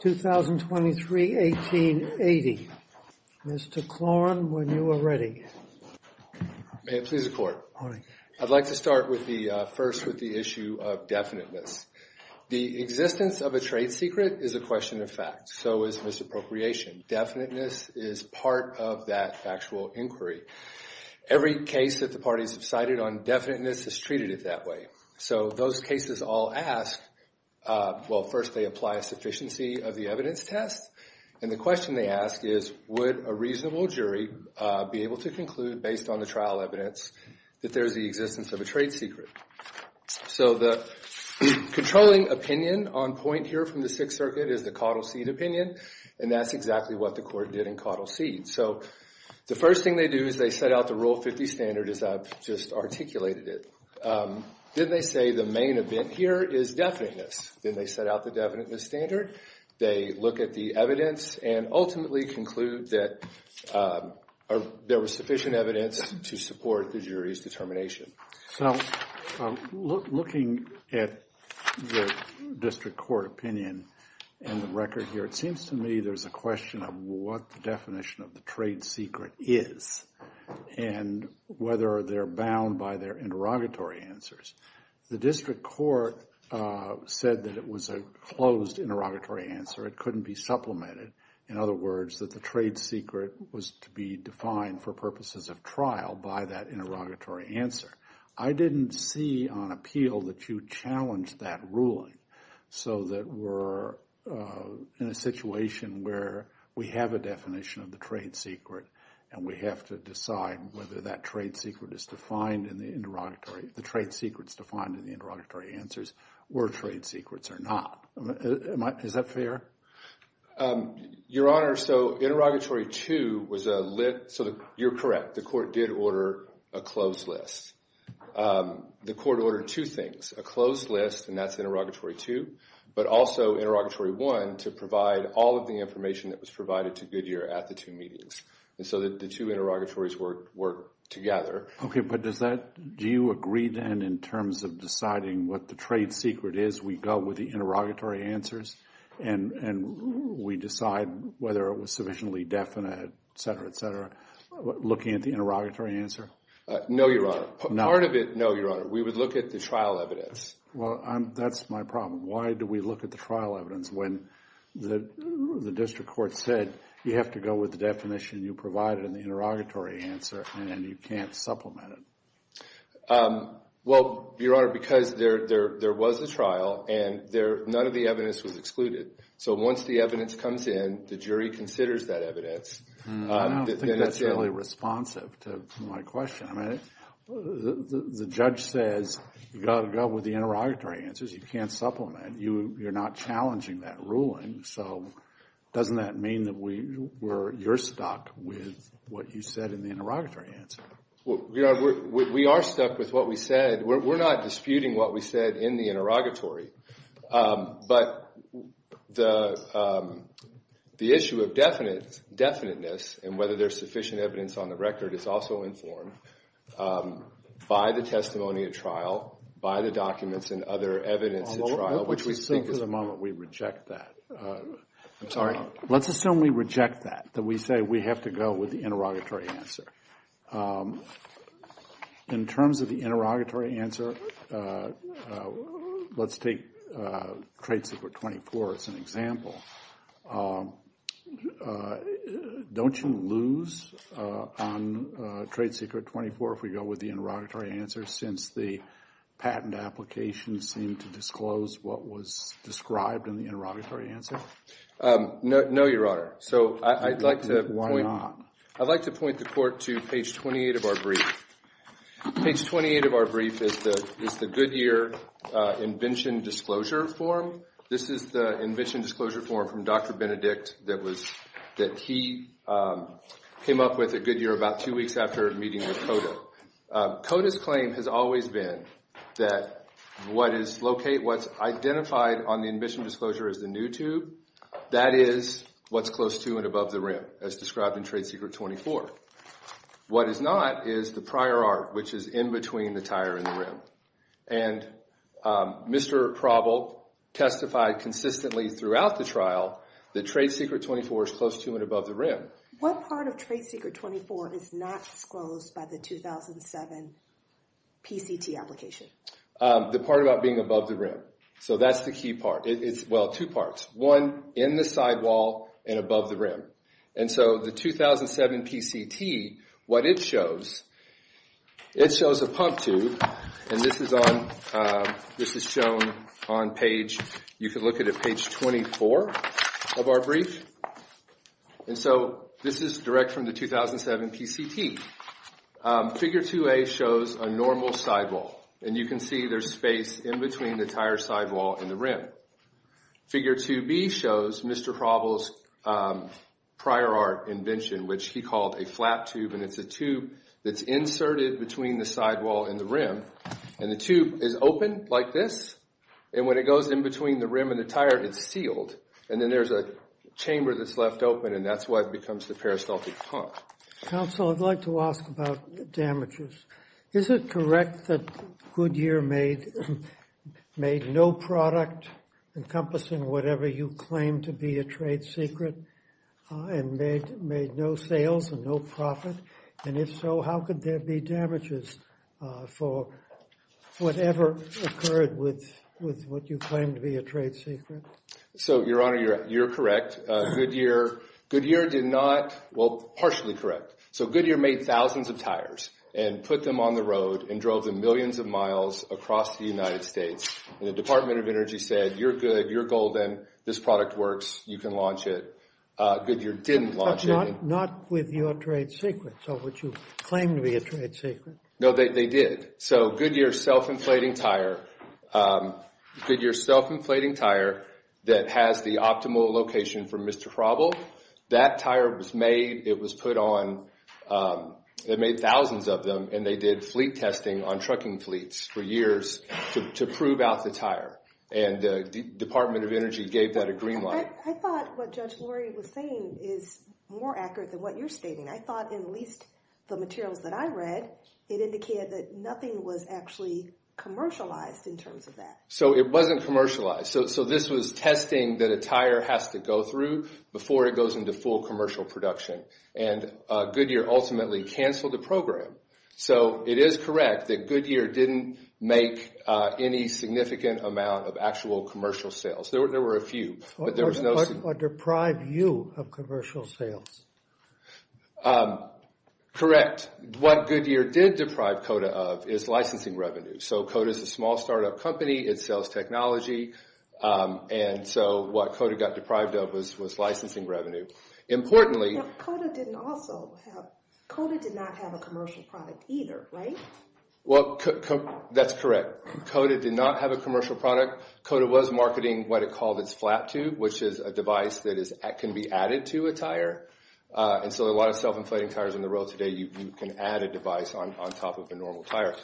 2023, 1880. Mr. Klorn, when you are ready. May it please the Court. I'd like to start first with the issue of definiteness. The existence of a trade secret is a question of fact, so is misappropriation. Definiteness is part of that factual inquiry. Every case that the parties have cited on definiteness is treated that way. So those cases all ask, well, first they apply a sufficiency of the evidence test, and the question they ask is, would a reasonable jury be able to conclude, based on the trial evidence, that there is the existence of a trade secret? So the controlling opinion on point here from the Sixth Circuit is the coddle seed opinion, and that's exactly what the Court did in coddle seed. So the first thing they do is they set out the Rule 50 standard as I've just articulated it. Then they say the main event here is definiteness. Then they set out the definiteness standard. They look at the evidence and ultimately conclude that there was sufficient evidence to support the jury's determination. So looking at the district court opinion and the record here, it seems to me there's a question of what the definition of the trade secret is and whether they're bound by their interrogatory answers. The district court said that it was a closed interrogatory answer. It couldn't be supplemented. In other words, that the trade secret was to be defined for purposes of trial by that interrogatory answer. I didn't see on appeal that you challenged that ruling so that we're in a situation where we have a definition of the trade secret and we have to decide whether that trade secret is defined in the interrogatory answers or trade secrets are not. Is that fair? Your Honor, so interrogatory two was a lit, so you're correct. The court did order a closed list. The court ordered two things, a closed list, and that's interrogatory two, but also interrogatory one to provide all of the information that was provided to Goodyear at the two meetings. So the two interrogatories work together. Okay, but do you agree then in terms of deciding what the trade secret is, we go with the interrogatory answers and we decide whether it was sufficiently definite, et cetera, et cetera, looking at the interrogatory answer? No, Your Honor. Part of it, no, Your Honor. We would look at the trial evidence. Well, that's my problem. Why do we look at the trial evidence when the district court said you have to go with the definition you provided in the interrogatory answer and you can't supplement it? Well, Your Honor, because there was a trial and none of the evidence was excluded. So once the evidence comes in, the jury considers that evidence. I don't think that's really responsive to my question. I mean, the judge says you've got to go with the interrogatory answers. You can't supplement. You're not challenging that ruling. So doesn't that mean that you're stuck with what you said in the interrogatory answer? Well, Your Honor, we are stuck with what we said. We're not disputing what we said in the interrogatory. But the issue of definiteness and whether there's sufficient evidence on the record is also informed by the testimony at trial, by the documents and other evidence at trial. Let's just think for the moment we reject that. I'm sorry. Let's assume we reject that, that we say we have to go with the interrogatory answer. In terms of the interrogatory answer, let's take Trade Secret 24 as an example. Don't you lose on Trade Secret 24 if we go with the interrogatory answer since the patent application seemed to disclose what was described in the interrogatory answer? No, Your Honor. So I'd like to point the court to the fact that we're going to page 28 of our brief. Page 28 of our brief is the Goodyear Invention Disclosure Form. This is the Invention Disclosure Form from Dr. Benedict that he came up with at Goodyear about two weeks after meeting with Coda. Coda's claim has always been that what is located, what's identified on the Invention Disclosure as the new tube, that is what's close to and above the rim as described in Trade Secret 24. What is not is the prior art, which is in between the tire and the rim. And Mr. Proble testified consistently throughout the trial that Trade Secret 24 is close to and above the rim. What part of Trade Secret 24 is not disclosed by the 2007 PCT application? The part about being above the rim. So that's the key part. Well, two parts. One, in the sidewall and above the rim. And so the 2007 PCT, what it shows, it shows a pump tube. And this is shown on page, you can look at it, page 24 of our brief. And so this is direct from the 2007 PCT. Figure 2A shows a normal sidewall. And you can see there's space in between the tire sidewall and the rim. Figure 2B shows Mr. Proble's prior art invention, which he called a flat tube. And it's a tube that's inserted between the sidewall and the rim. And the tube is open like this. And when it goes in between the rim and the tire, it's sealed. And then there's a chamber that's left open, and that's what becomes the peristaltic pump. Counsel, I'd like to ask about damages. Is it correct that Goodyear made no product encompassing whatever you claim to be a trade secret and made no sales and no profit? And if so, how could there be damages for whatever occurred with what you claim to be a trade secret? So, Your Honor, you're correct. Goodyear did not – well, partially correct. So, Goodyear made thousands of tires and put them on the road and drove them millions of miles across the United States. And the Department of Energy said, you're good, you're golden, this product works, you can launch it. Goodyear didn't launch it. But not with your trade secrets or what you claim to be a trade secret. No, they did. So, Goodyear's self-inflating tire, Goodyear's self-inflating tire that has the optimal location for Mr. Proble, that tire was made, it was put on – they made thousands of them and they did fleet testing on trucking fleets for years to prove out the tire. And the Department of Energy gave that a green light. I thought what Judge Lori was saying is more accurate than what you're stating. I thought in at least the materials that I read, it indicated that nothing was actually commercialized in terms of that. So, it wasn't commercialized. So, this was testing that a tire has to go through before it goes into full commercial production. And Goodyear ultimately canceled the program. So, it is correct that Goodyear didn't make any significant amount of actual commercial sales. There were a few, but there was no – Or deprive you of commercial sales. Correct. What Goodyear did deprive COTA of is licensing revenue. So, COTA is a small startup company. It sells technology. And so, what COTA got deprived of was licensing revenue. Importantly – COTA didn't also have – COTA did not have a commercial product either, right? Well, that's correct. COTA did not have a commercial product. COTA was marketing what it called its flat tube, which is a device that can be added to a tire. And so, a lot of self-inflating tires in the road today, you can add a device on top of a normal tire.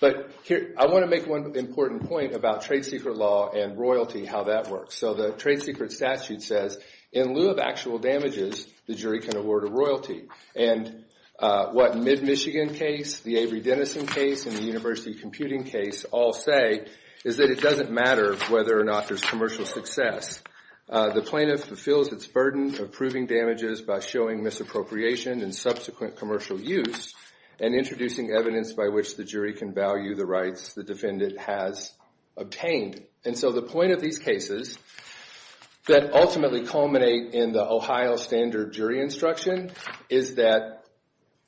But I want to make one important point about trade secret law and royalty, how that works. So, the trade secret statute says, in lieu of actual damages, the jury can award a royalty. And what MidMichigan case, the Avery Dennison case, and the University Computing case all say is that it doesn't matter whether or not there's commercial success. The plaintiff fulfills its burden of proving damages by showing misappropriation in subsequent commercial use and introducing evidence by which the jury can value the rights the defendant has obtained. And so, the point of these cases that ultimately culminate in the Ohio standard jury instruction is that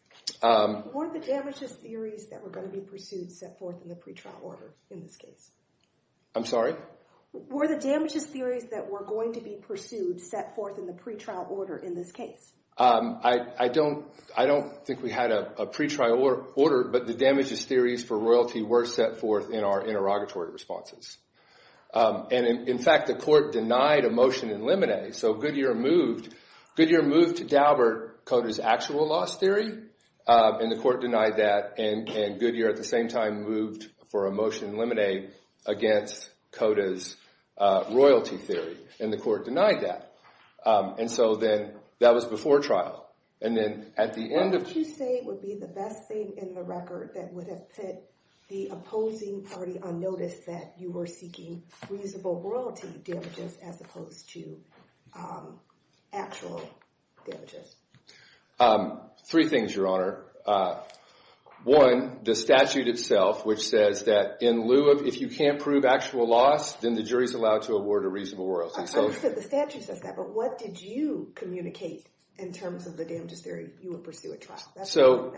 – Were the damages theories that were going to be pursued set forth in the pretrial order in this case? I'm sorry? Were the damages theories that were going to be pursued set forth in the pretrial order in this case? I don't think we had a pretrial order, but the damages theories for royalty were set forth in our interrogatory responses. And, in fact, the court denied a motion in limine. So, Goodyear moved to Daubert Cota's actual loss theory, and the court denied that. And Goodyear, at the same time, moved for a motion in limine against Cota's royalty theory, and the court denied that. And so, then, that was before trial. And then, at the end of – Why would you say it would be the best thing in the record that would have put the opposing party on notice that you were seeking reasonable royalty damages as opposed to actual damages? Three things, Your Honor. One, the statute itself, which says that in lieu of – if you can't prove actual loss, then the jury's allowed to award a reasonable royalty. The statute says that, but what did you communicate in terms of the damages theory you would pursue at trial? So,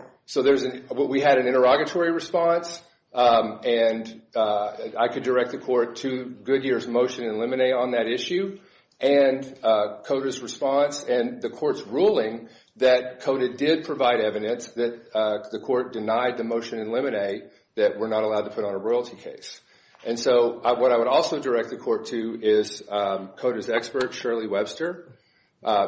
we had an interrogatory response, and I could direct the court to Goodyear's motion in limine on that issue, and Cota's response, and the court's ruling that Cota did provide evidence that the court denied the motion in limine that we're not allowed to put on a royalty case. And so, what I would also direct the court to is Cota's expert, Shirley Webster.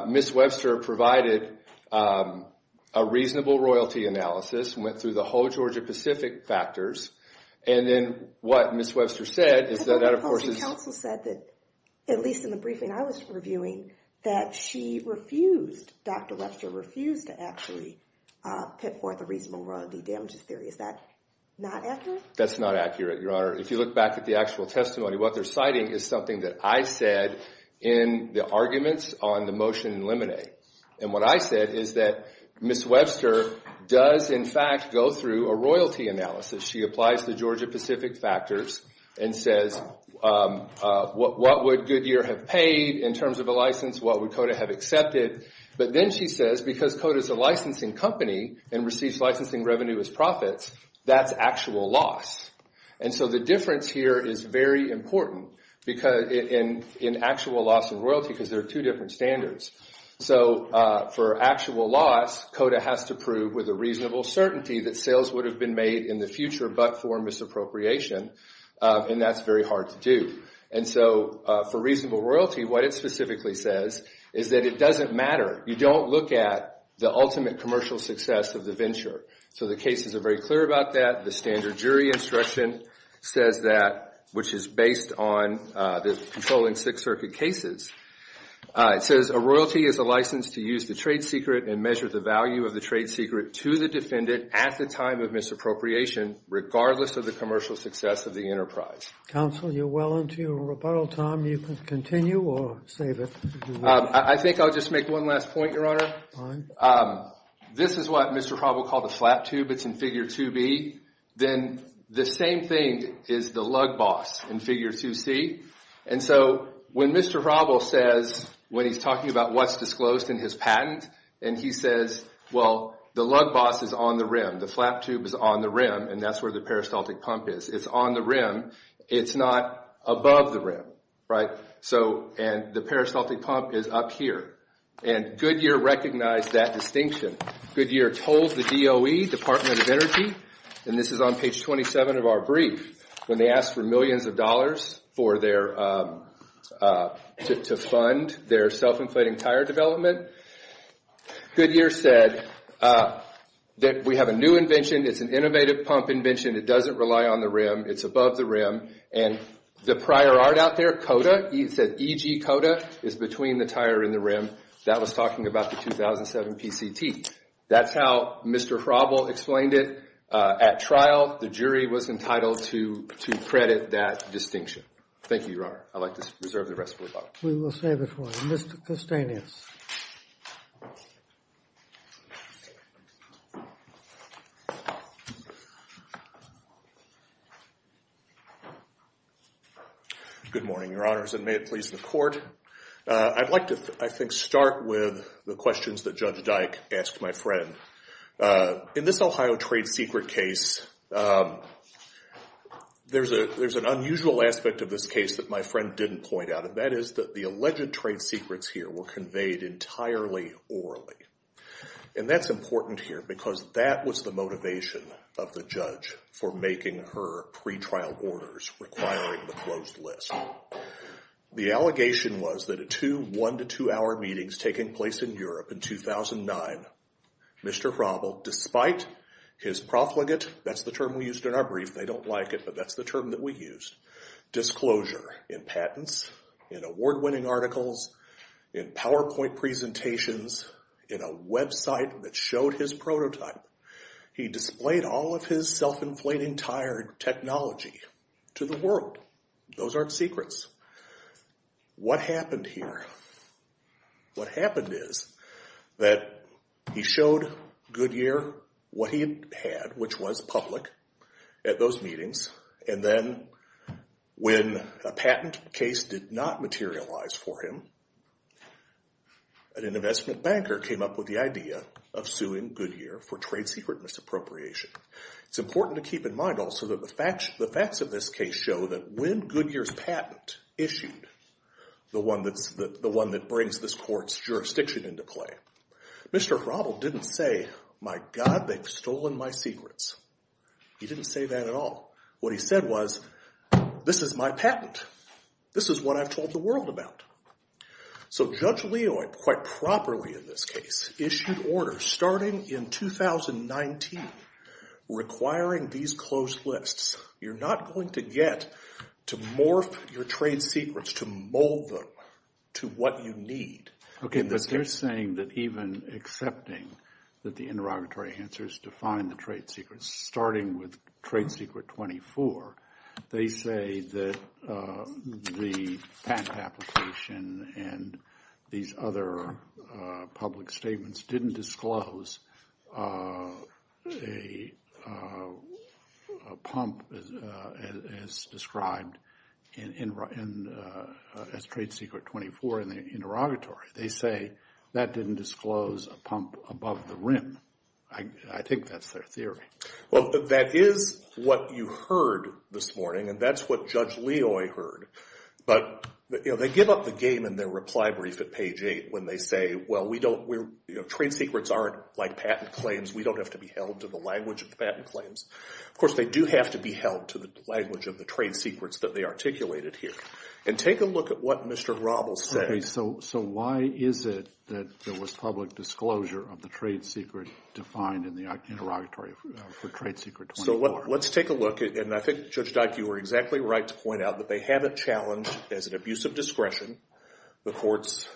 Ms. Webster provided a reasonable royalty analysis, went through the whole Georgia-Pacific factors, and then what Ms. Webster said is that, of course – But the opposing counsel said that, at least in the briefing I was reviewing, that she refused, Dr. Webster refused, to actually put forth a reasonable royalty damages theory. Is that not accurate? That's not accurate, Your Honor. If you look back at the actual testimony, what they're citing is something that I said in the arguments on the motion in limine. And what I said is that Ms. Webster does, in fact, go through a royalty analysis. She applies the Georgia-Pacific factors and says, what would Goodyear have paid in terms of a license? What would Cota have accepted? But then she says, because Cota's a licensing company and receives licensing revenue as profits, that's actual loss. And so the difference here is very important in actual loss of royalty, because there are two different standards. So for actual loss, Cota has to prove with a reasonable certainty that sales would have been made in the future but for misappropriation, and that's very hard to do. And so for reasonable royalty, what it specifically says is that it doesn't matter. You don't look at the ultimate commercial success of the venture. So the cases are very clear about that. The standard jury instruction says that, which is based on the controlling Sixth Circuit cases. It says, a royalty is a license to use the trade secret and measure the value of the trade secret to the defendant at the time of misappropriation, regardless of the commercial success of the enterprise. Counsel, you're well into your rebuttal time. You can continue or save it. I think I'll just make one last point, Your Honor. Fine. This is what Mr. Robel called the flap tube. It's in Figure 2B. Then the same thing is the lug boss in Figure 2C. And so when Mr. Robel says, when he's talking about what's disclosed in his patent, and he says, well, the lug boss is on the rim. The flap tube is on the rim, and that's where the peristaltic pump is. It's on the rim. It's not above the rim, right? And the peristaltic pump is up here. And Goodyear recognized that distinction. Goodyear told the DOE, Department of Energy, and this is on page 27 of our brief, when they asked for millions of dollars to fund their self-inflating tire development. Goodyear said that we have a new invention. It's an innovative pump invention. It doesn't rely on the rim. It's above the rim. And the prior art out there, COTA, he said EG COTA is between the tire and the rim. That was talking about the 2007 PCT. That's how Mr. Robel explained it. At trial, the jury was entitled to credit that distinction. Thank you, Your Honor. I'd like to reserve the rest for the public. We will save it for you. Mr. Custanius. Thank you, Your Honor. Good morning, Your Honors, and may it please the court. I'd like to, I think, start with the questions that Judge Dyke asked my friend. In this Ohio trade secret case, there's an unusual aspect of this case that my friend didn't point out. And that is that the alleged trade secrets here were conveyed entirely orally. And that's important here, because that was the motivation of the judge for making her pretrial orders requiring the closed list. The allegation was that a two one-to-two-hour meetings taking place in Europe in 2009, Mr. Robel, despite his profligate, that's the term we used in our brief, they don't like it, but that's the term that we used, disclosure in patents, in award-winning articles, in PowerPoint presentations, in a website that showed his prototype. He displayed all of his self-inflating tired technology to the world. Those aren't secrets. What happened here? What happened is that he showed Goodyear what he had, which was public, at those meetings, and then when a patent case did not materialize for him, an investment banker came up with the idea of suing Goodyear for trade secret misappropriation. It's important to keep in mind also that the facts of this case show that when Goodyear's patent issued, the one that brings this court's jurisdiction into play, Mr. Robel didn't say, my god, they've stolen my secrets. He didn't say that at all. What he said was, this is my patent. This is what I've told the world about. So Judge Leoy, quite properly in this case, issued orders starting in 2019 requiring these closed lists. You're not going to get to morph your trade secrets, to mold them to what you need. Okay, but they're saying that even accepting that the interrogatory answers define the trade secrets, starting with trade secret 24, they say that the patent application and these other public statements didn't disclose a pump as described as trade secret 24 in the interrogatory. They say that didn't disclose a pump above the rim. I think that's their theory. Well, that is what you heard this morning, and that's what Judge Leoy heard. But they give up the game in their reply brief at page 8 when they say, well, trade secrets aren't like patent claims. We don't have to be held to the language of the patent claims. Of course, they do have to be held to the language of the trade secrets that they articulated here. And take a look at what Mr. Robel said. Okay, so why is it that there was public disclosure of the trade secret defined in the interrogatory for trade secret 24? So let's take a look, and I think, Judge Dyke, you were exactly right to point out that they have a challenge as an abuse of discretion, the court's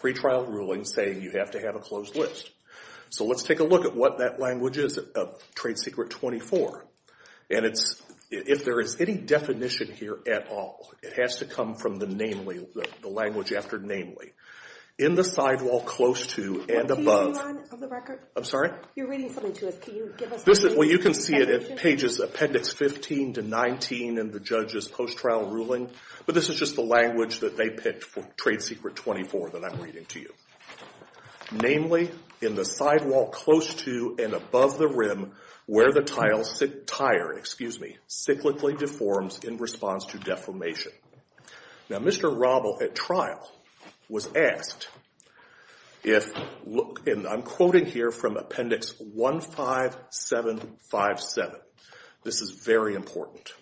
pretrial ruling saying you have to have a closed list. So let's take a look at what that language is of trade secret 24. And if there is any definition here at all, it has to come from the language after namely. In the sidewall close to and above... Are you on the record? I'm sorry? You're reading something to us. Can you give us the definition? Well, you can see it at pages appendix 15 to 19 in the judge's post-trial ruling, but this is just the language that they picked for trade secret 24 that I'm reading to you. Namely, in the sidewall close to and above the rim where the tile tire, excuse me, cyclically deforms in response to deformation. Now, Mr. Robel at trial was asked if, and I'm quoting here from appendix 15757. This is very important.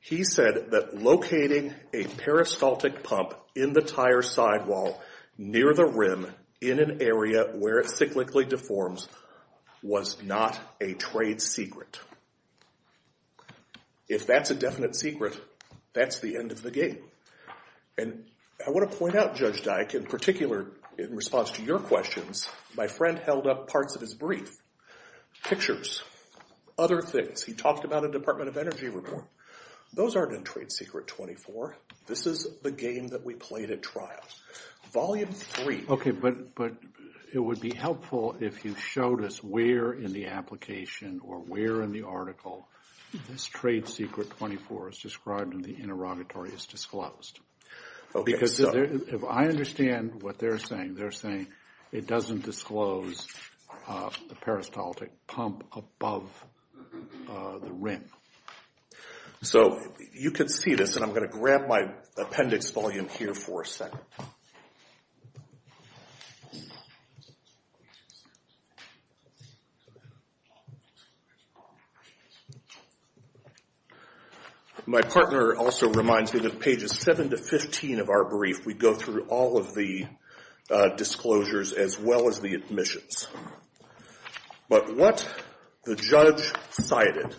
He said that locating a peristaltic pump in the tire sidewall near the rim in an area where it cyclically deforms was not a trade secret. If that's a definite secret, that's the end of the game. And I want to point out, Judge Dyke, in particular in response to your questions, my friend held up parts of his brief, pictures, other things. He talked about a Department of Energy report. Those aren't in trade secret 24. This is the game that we played at trial. Volume three... Okay, but it would be helpful if you showed us where in the application or where in the article this trade secret 24 is described and the interrogatory is disclosed. Because if I understand what they're saying, they're saying it doesn't disclose the peristaltic pump above the rim. So you can see this, and I'm going to grab my appendix volume here for a second. My partner also reminds me that pages 7 to 15 of our brief, we go through all of the disclosures as well as the admissions. But what the judge cited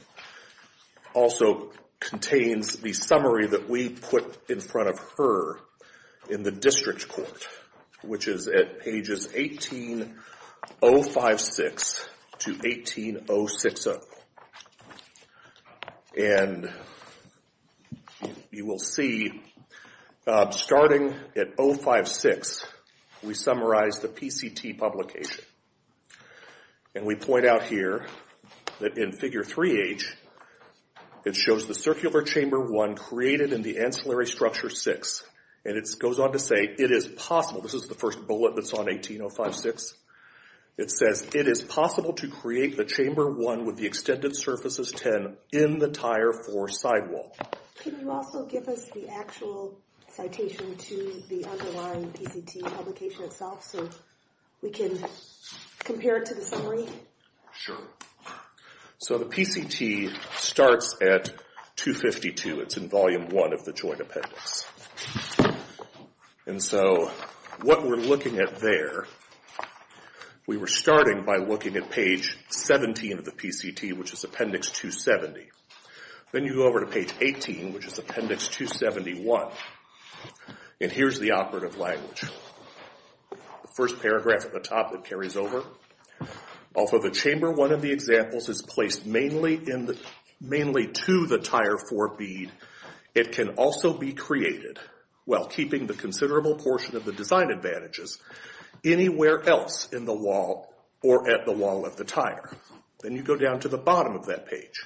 also contains the summary that we put in front of her in the district court, which is at pages 18056 to 18060. And you will see starting at 056, we summarize the PCT publication. And we point out here that in figure 3H, it shows the circular chamber 1 created in the ancillary structure 6. And it goes on to say, it is possible. This is the first bullet that's on 18056. It says, it is possible to create the chamber 1 with the extended surfaces 10 in the tire 4 sidewall. Can you also give us the actual citation to the underlying PCT publication itself so we can compare it to the summary? Sure. So the PCT starts at 252. It's in volume 1 of the joint appendix. And so what we're looking at there, we were starting by looking at page 17 of the PCT, which is appendix 270. Then you go over to page 18, which is appendix 271. And here's the operative language. The first paragraph at the top, it carries over. Also, the chamber 1 of the examples is placed mainly to the tire 4 bead. It can also be created, while keeping the considerable portion of the design advantages, anywhere else in the wall or at the wall of the tire. Then you go down to the bottom of that page.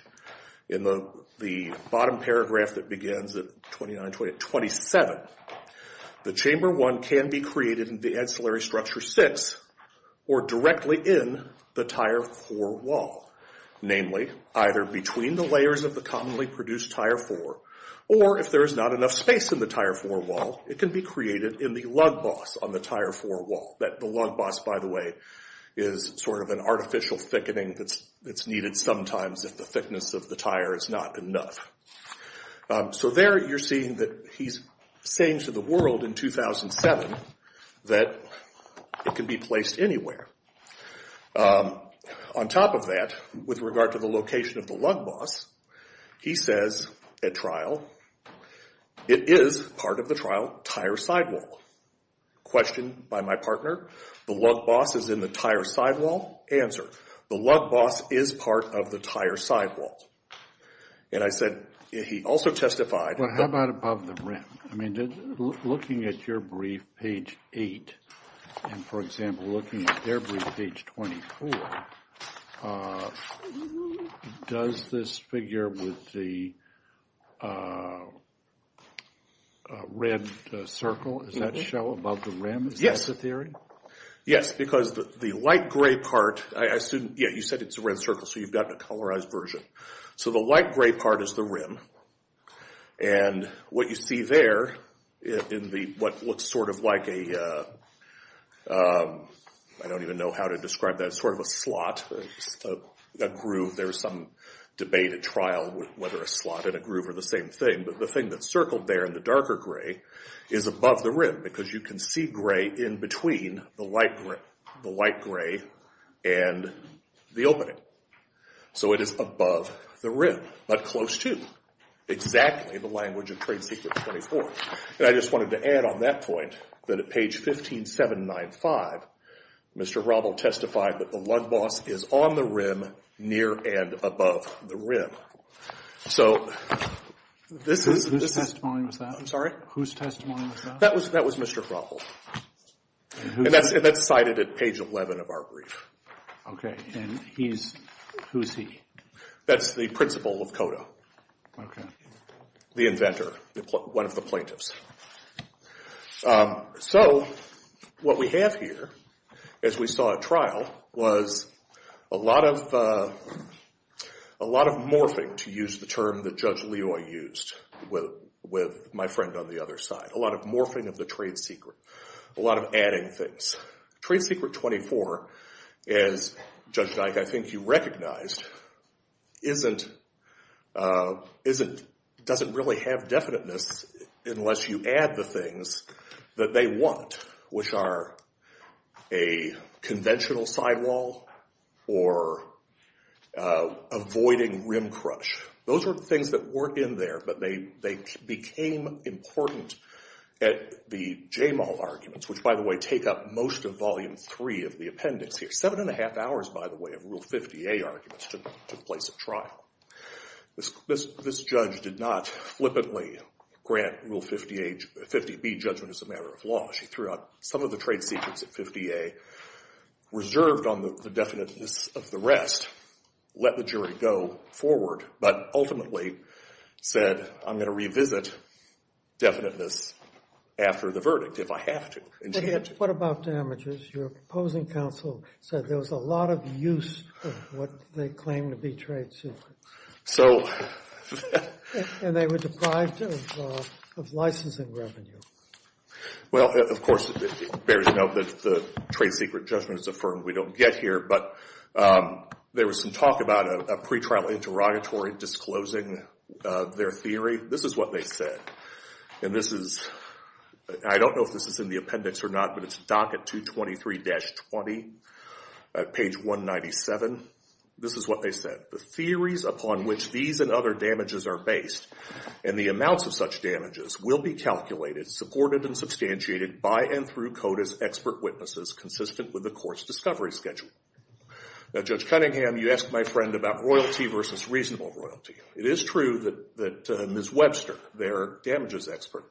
In the bottom paragraph that begins at 27, the chamber 1 can be created in the ancillary structure 6 or directly in the tire 4 wall, namely either between the layers of the commonly produced tire 4, or if there is not enough space in the tire 4 wall, it can be created in the lug boss on the tire 4 wall. The lug boss, by the way, is sort of an artificial thickening that's needed sometimes if the thickness of the tire is not enough. So there you're seeing that he's saying to the world in 2007 that it can be placed anywhere. On top of that, with regard to the location of the lug boss, he says at trial, it is part of the trial tire sidewall. Question by my partner, the lug boss is in the tire sidewall? Answer, the lug boss is part of the tire sidewall. And I said, he also testified... Well, how about above the rim? I mean, looking at your brief, page 8, and, for example, looking at their brief, page 24, does this figure with the red circle, does that show above the rim? Yes. Is that the theory? Yes, because the light gray part, I assume, yeah, you said it's a red circle, so you've got a colorized version. So the light gray part is the rim, and what you see there in what looks sort of like a... I don't even know how to describe that. It's sort of a slot, a groove. There was some debate at trial whether a slot and a groove are the same thing, but the thing that's circled there in the darker gray is above the rim, because you can see gray in between the light gray and the opening. So it is above the rim, but close, too. Exactly the language of Trade Secrets 24. And I just wanted to add on that point that at page 15795, Mr. Robel testified that the lug boss is on the rim, near and above the rim. So this is... Whose testimony was that? I'm sorry? Whose testimony was that? That was Mr. Robel, and that's cited at page 11 of our brief. Okay, and he's... who's he? That's the principal of CODA. The inventor, one of the plaintiffs. So what we have here, as we saw at trial, was a lot of morphing, to use the term that Judge Loy used with my friend on the other side, a lot of morphing of the trade secret, a lot of adding things. Trade Secret 24, as, Judge Dyke, I think you recognized, doesn't really have definiteness unless you add the things that they want, which are a conventional sidewall or avoiding rim crush. Those are the things that weren't in there, but they became important at the J-Mall arguments, which, by the way, take up most of Volume 3 of the appendix here. Seven and a half hours, by the way, of Rule 50A arguments took place at trial. This judge did not flippantly grant Rule 50B judgment as a matter of law. She threw out some of the trade secrets at 50A, reserved on the definiteness of the rest, let the jury go forward, but ultimately said, I'm going to revisit definiteness after the verdict if I have to. And she did. What about damages? Your opposing counsel said there was a lot of use of what they claimed to be trade secrets. So... And they were deprived of licensing revenue. Well, of course, it bears note that the trade secret judgment is affirmed. We don't get here, but there was some talk about a pretrial interrogatory disclosing their theory. This is what they said. And this is... I don't know if this is in the appendix or not, but it's docket 223-20, page 197. This is what they said. The theories upon which these and other damages are based and the amounts of such damages will be calculated, supported, and substantiated by and through CODA's expert witnesses consistent with the court's discovery schedule. Now, Judge Cunningham, you asked my friend about royalty versus reasonable royalty. It is true that Ms. Webster, their damages expert,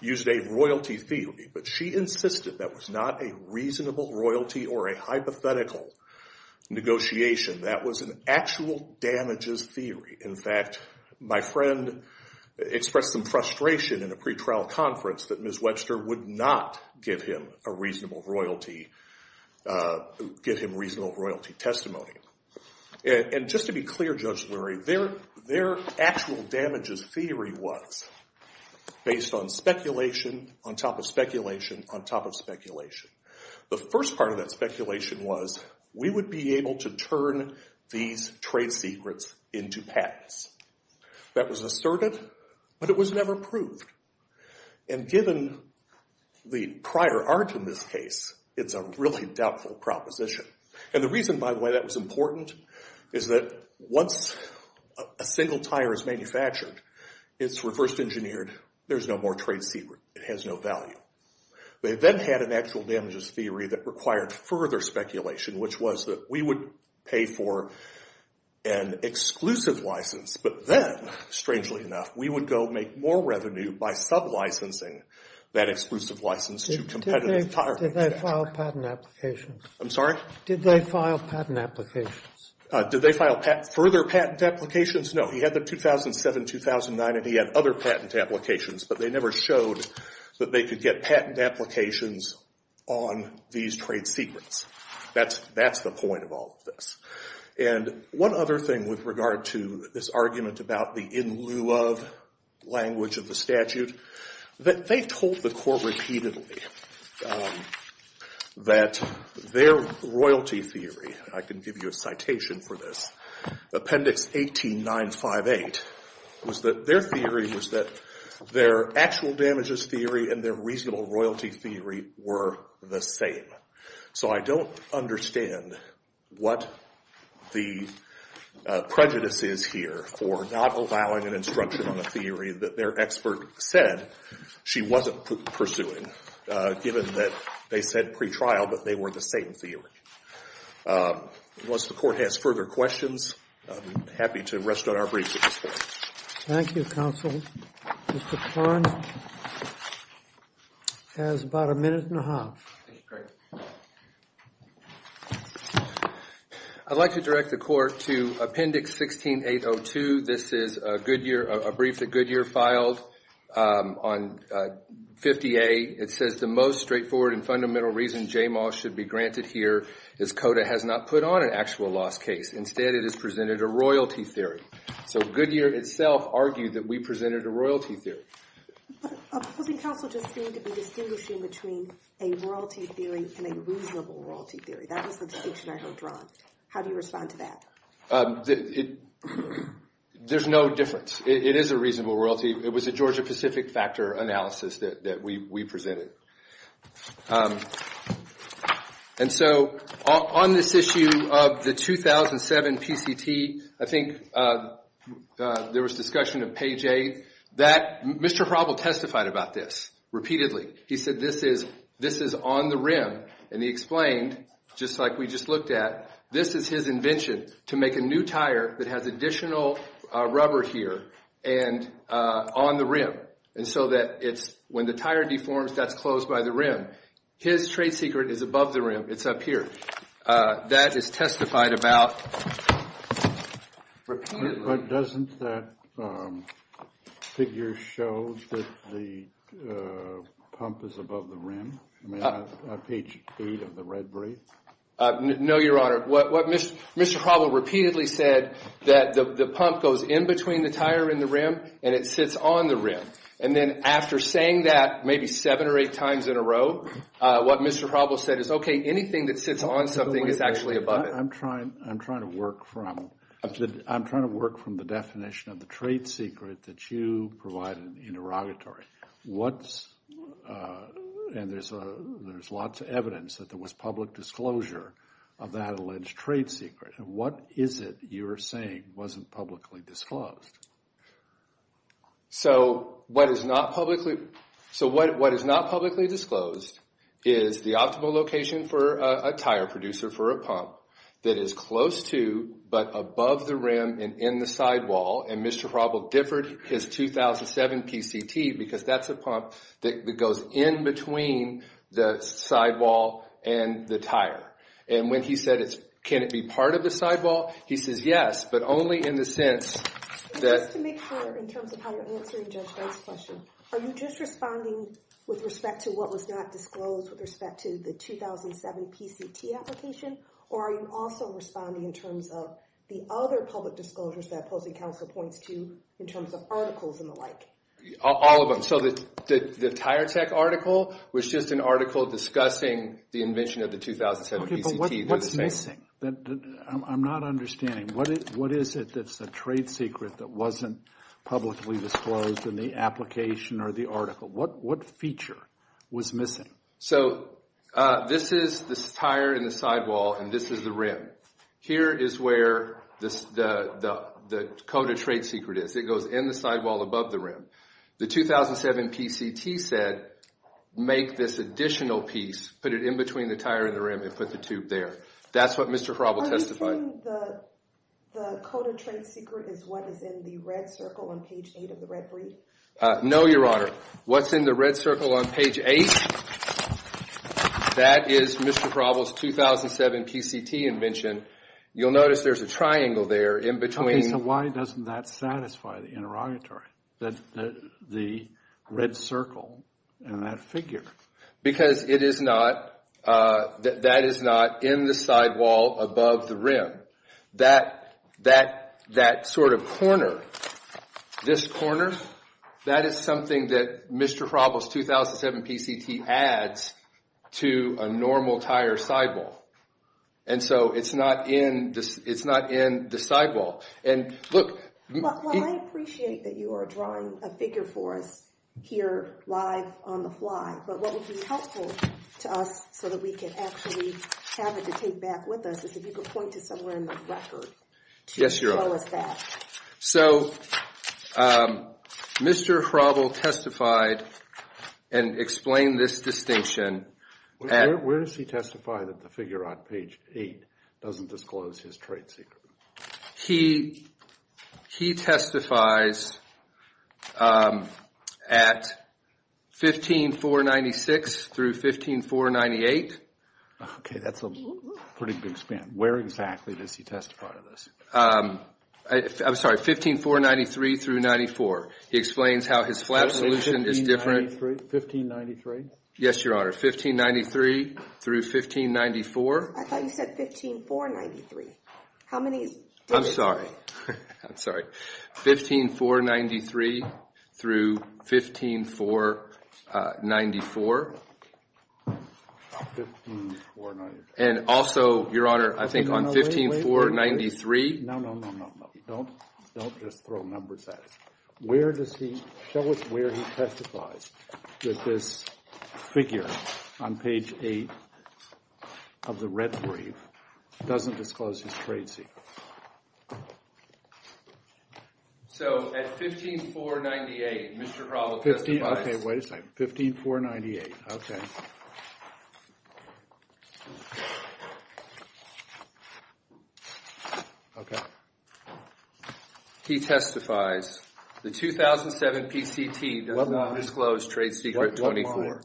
used a royalty theory, but she insisted that was not a reasonable royalty or a hypothetical negotiation. That was an actual damages theory. In fact, my friend expressed some frustration in a pretrial conference that Ms. Webster would not give him a reasonable royalty... give him reasonable royalty testimony. And just to be clear, Judge Lurie, their actual damages theory was based on speculation, on top of speculation, on top of speculation. The first part of that speculation was we would be able to turn these trade secrets into patents. That was asserted, but it was never proved. And given the prior art in this case, it's a really doubtful proposition. And the reason, by the way, that was important is that once a single tire is manufactured, it's reversed engineered, there's no more trade secret. It has no value. They then had an actual damages theory that required further speculation, which was that we would pay for an exclusive license, but then, strangely enough, we would go make more revenue by sublicensing that exclusive license to competitive tire manufacturers. Did they file patent applications? I'm sorry? Did they file patent applications? Did they file further patent applications? No. He had them 2007, 2009, and he had other patent applications, but they never showed that they could get patent applications on these trade secrets. That's the point of all of this. And one other thing with regard to this argument about the in lieu of language of the statute, that they told the court repeatedly that their royalty theory, and I can give you a citation for this, Appendix 18958, was that their theory was that their actual damages theory and their reasonable royalty theory were the same. So I don't understand what the prejudice is here for not allowing an instruction on a theory that their expert said she wasn't pursuing, given that they said pre-trial, but they were the same theory. Once the court has further questions, I'm happy to rest on our brief at this point. Thank you, counsel. Mr. Kern has about a minute and a half. I'd like to direct the court to Appendix 16802. This is a brief that Goodyear filed on 50A. It says, The most straightforward and fundamental reason JMAW should be granted here is CODA has not put on an actual loss case. Instead, it has presented a royalty theory. So Goodyear itself argued that we presented a royalty theory. But couldn't counsel just seem to be distinguishing between a royalty theory and a reasonable royalty theory? That was the distinction I heard drawn. How do you respond to that? There's no difference. It is a reasonable royalty. It was a Georgia-Pacific factor analysis that we presented. And so on this issue of the 2007 PCT, I think there was discussion of page A. Mr. Proble testified about this repeatedly. He said this is on the rim, and he explained, just like we just looked at, this is his invention to make a new tire that has additional rubber here on the rim. And so when the tire deforms, that's closed by the rim. His trade secret is above the rim. It's up here. That is testified about repeatedly. But doesn't that figure show that the pump is above the rim? I mean, on page 8 of the red brief? No, Your Honor. What Mr. Proble repeatedly said, that the pump goes in between the tire and the rim, and it sits on the rim. And then after saying that maybe seven or eight times in a row, what Mr. Proble said is, okay, anything that sits on something is actually above it. I'm trying to work from the definition of the trade secret that you provided interrogatory. And there's lots of evidence that there was public disclosure of that alleged trade secret. What is it you're saying wasn't publicly disclosed? So what is not publicly disclosed is the optimal location for a tire producer for a pump that is close to but above the rim and in the sidewall. And Mr. Proble differed his 2007 PCT because that's a pump that goes in between the sidewall and the tire. And when he said, can it be part of the sidewall? He says yes, but only in the sense that- Just to make sure in terms of how you're answering Judge Banks' question, are you just responding with respect to what was not disclosed with respect to the 2007 PCT application? Or are you also responding in terms of the other public disclosures that opposing counsel points to in terms of articles and the like? All of them. So the tire tech article was just an article discussing the invention of the 2007 PCT. Okay, but what's missing? I'm not understanding. What is it that's a trade secret that wasn't publicly disclosed in the application or the article? What feature was missing? So this is the tire in the sidewall, and this is the rim. Here is where the code of trade secret is. It goes in the sidewall above the rim. The 2007 PCT said, make this additional piece, put it in between the tire and the rim, and put the tube there. That's what Mr. Fraubel testified. Are you saying the code of trade secret is what is in the red circle on page 8 of the red brief? No, Your Honor. What's in the red circle on page 8? That is Mr. Fraubel's 2007 PCT invention. You'll notice there's a triangle there in between. Okay, so why doesn't that satisfy the interrogatory, the red circle and that figure? Because that is not in the sidewall above the rim. That sort of corner, this corner, that is something that Mr. Fraubel's 2007 PCT adds to a normal tire sidewall. And so it's not in the sidewall. Look. Well, I appreciate that you are drawing a figure for us here live on the fly, but what would be helpful to us so that we can actually have it to take back with us is if you could point to somewhere in the record to show us that. So Mr. Fraubel testified and explained this distinction. Where does he testify that the figure on page 8 doesn't disclose his trade secret? He testifies at 15496 through 15498. Okay, that's a pretty big span. Where exactly does he testify to this? I'm sorry, 15493 through 94. He explains how his flap solution is different. 1593? Yes, Your Honor. 1593 through 1594. I thought you said 15493. How many days? I'm sorry. I'm sorry. 15493 through 15494. And also, Your Honor, I think on 15493. No, no, no, no, no. Don't just throw numbers at us. Show us where he testifies that this figure on page 8 of the red brief doesn't disclose his trade secret. So at 15498, Mr. Fraubel testifies. Okay, wait a second. 15498, okay. Okay. He testifies. The 2007 PCT does not disclose trade secret 24.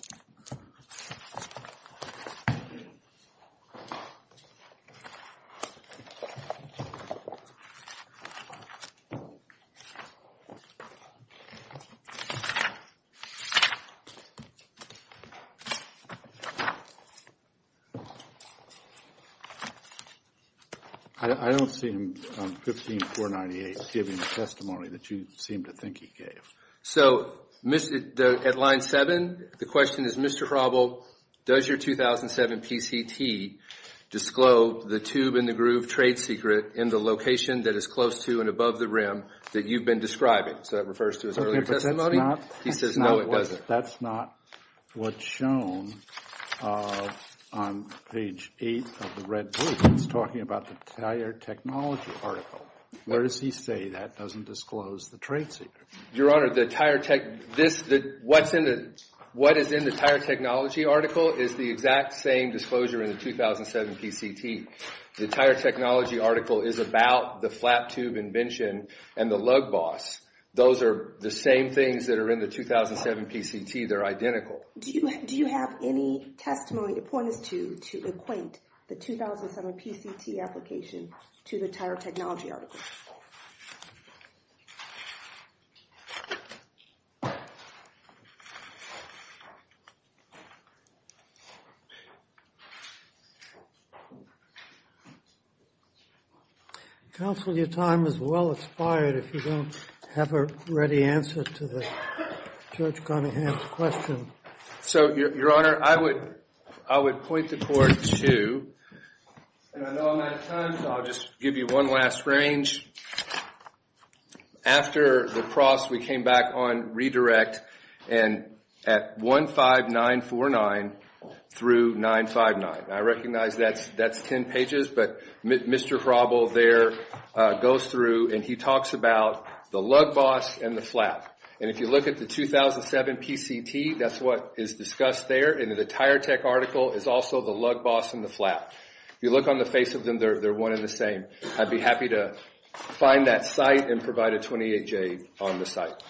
I don't see him on 15498 giving a testimony that you seem to think he gave. So at line 7, the question is, Mr. Fraubel, does your 2007 PCT disclose the tube in the groove trade secret in the location that is close to and above the rim that you've been describing? So that refers to his earlier testimony. He says no, it doesn't. That's not what's shown on page 8 of the red brief. It's talking about the tire technology article. Where does he say that doesn't disclose the trade secret? Your Honor, what is in the tire technology article is the exact same disclosure in the 2007 PCT. The tire technology article is about the flap tube invention and the lug boss. Those are the same things that are in the 2007 PCT. They're identical. Do you have any testimony to point us to to acquaint the 2007 PCT application to the tire technology article? Counsel, your time is well expired if you don't have a ready answer to the Judge Conahan's question. So, Your Honor, I would point the court to, and I know I'm out of time, so I'll just give you one last range. After the cross, we came back on redirect and at 15949 through 959. I recognize that's 10 pages, but Mr. Hrabel there goes through and he talks about the lug boss and the flap. And if you look at the 2007 PCT, that's what is discussed there. And the tire tech article is also the lug boss and the flap. If you look on the face of them, they're one and the same. I'd be happy to find that site and provide a 28-J on the site.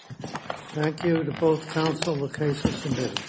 Thank you to both counsel. The case is submitted.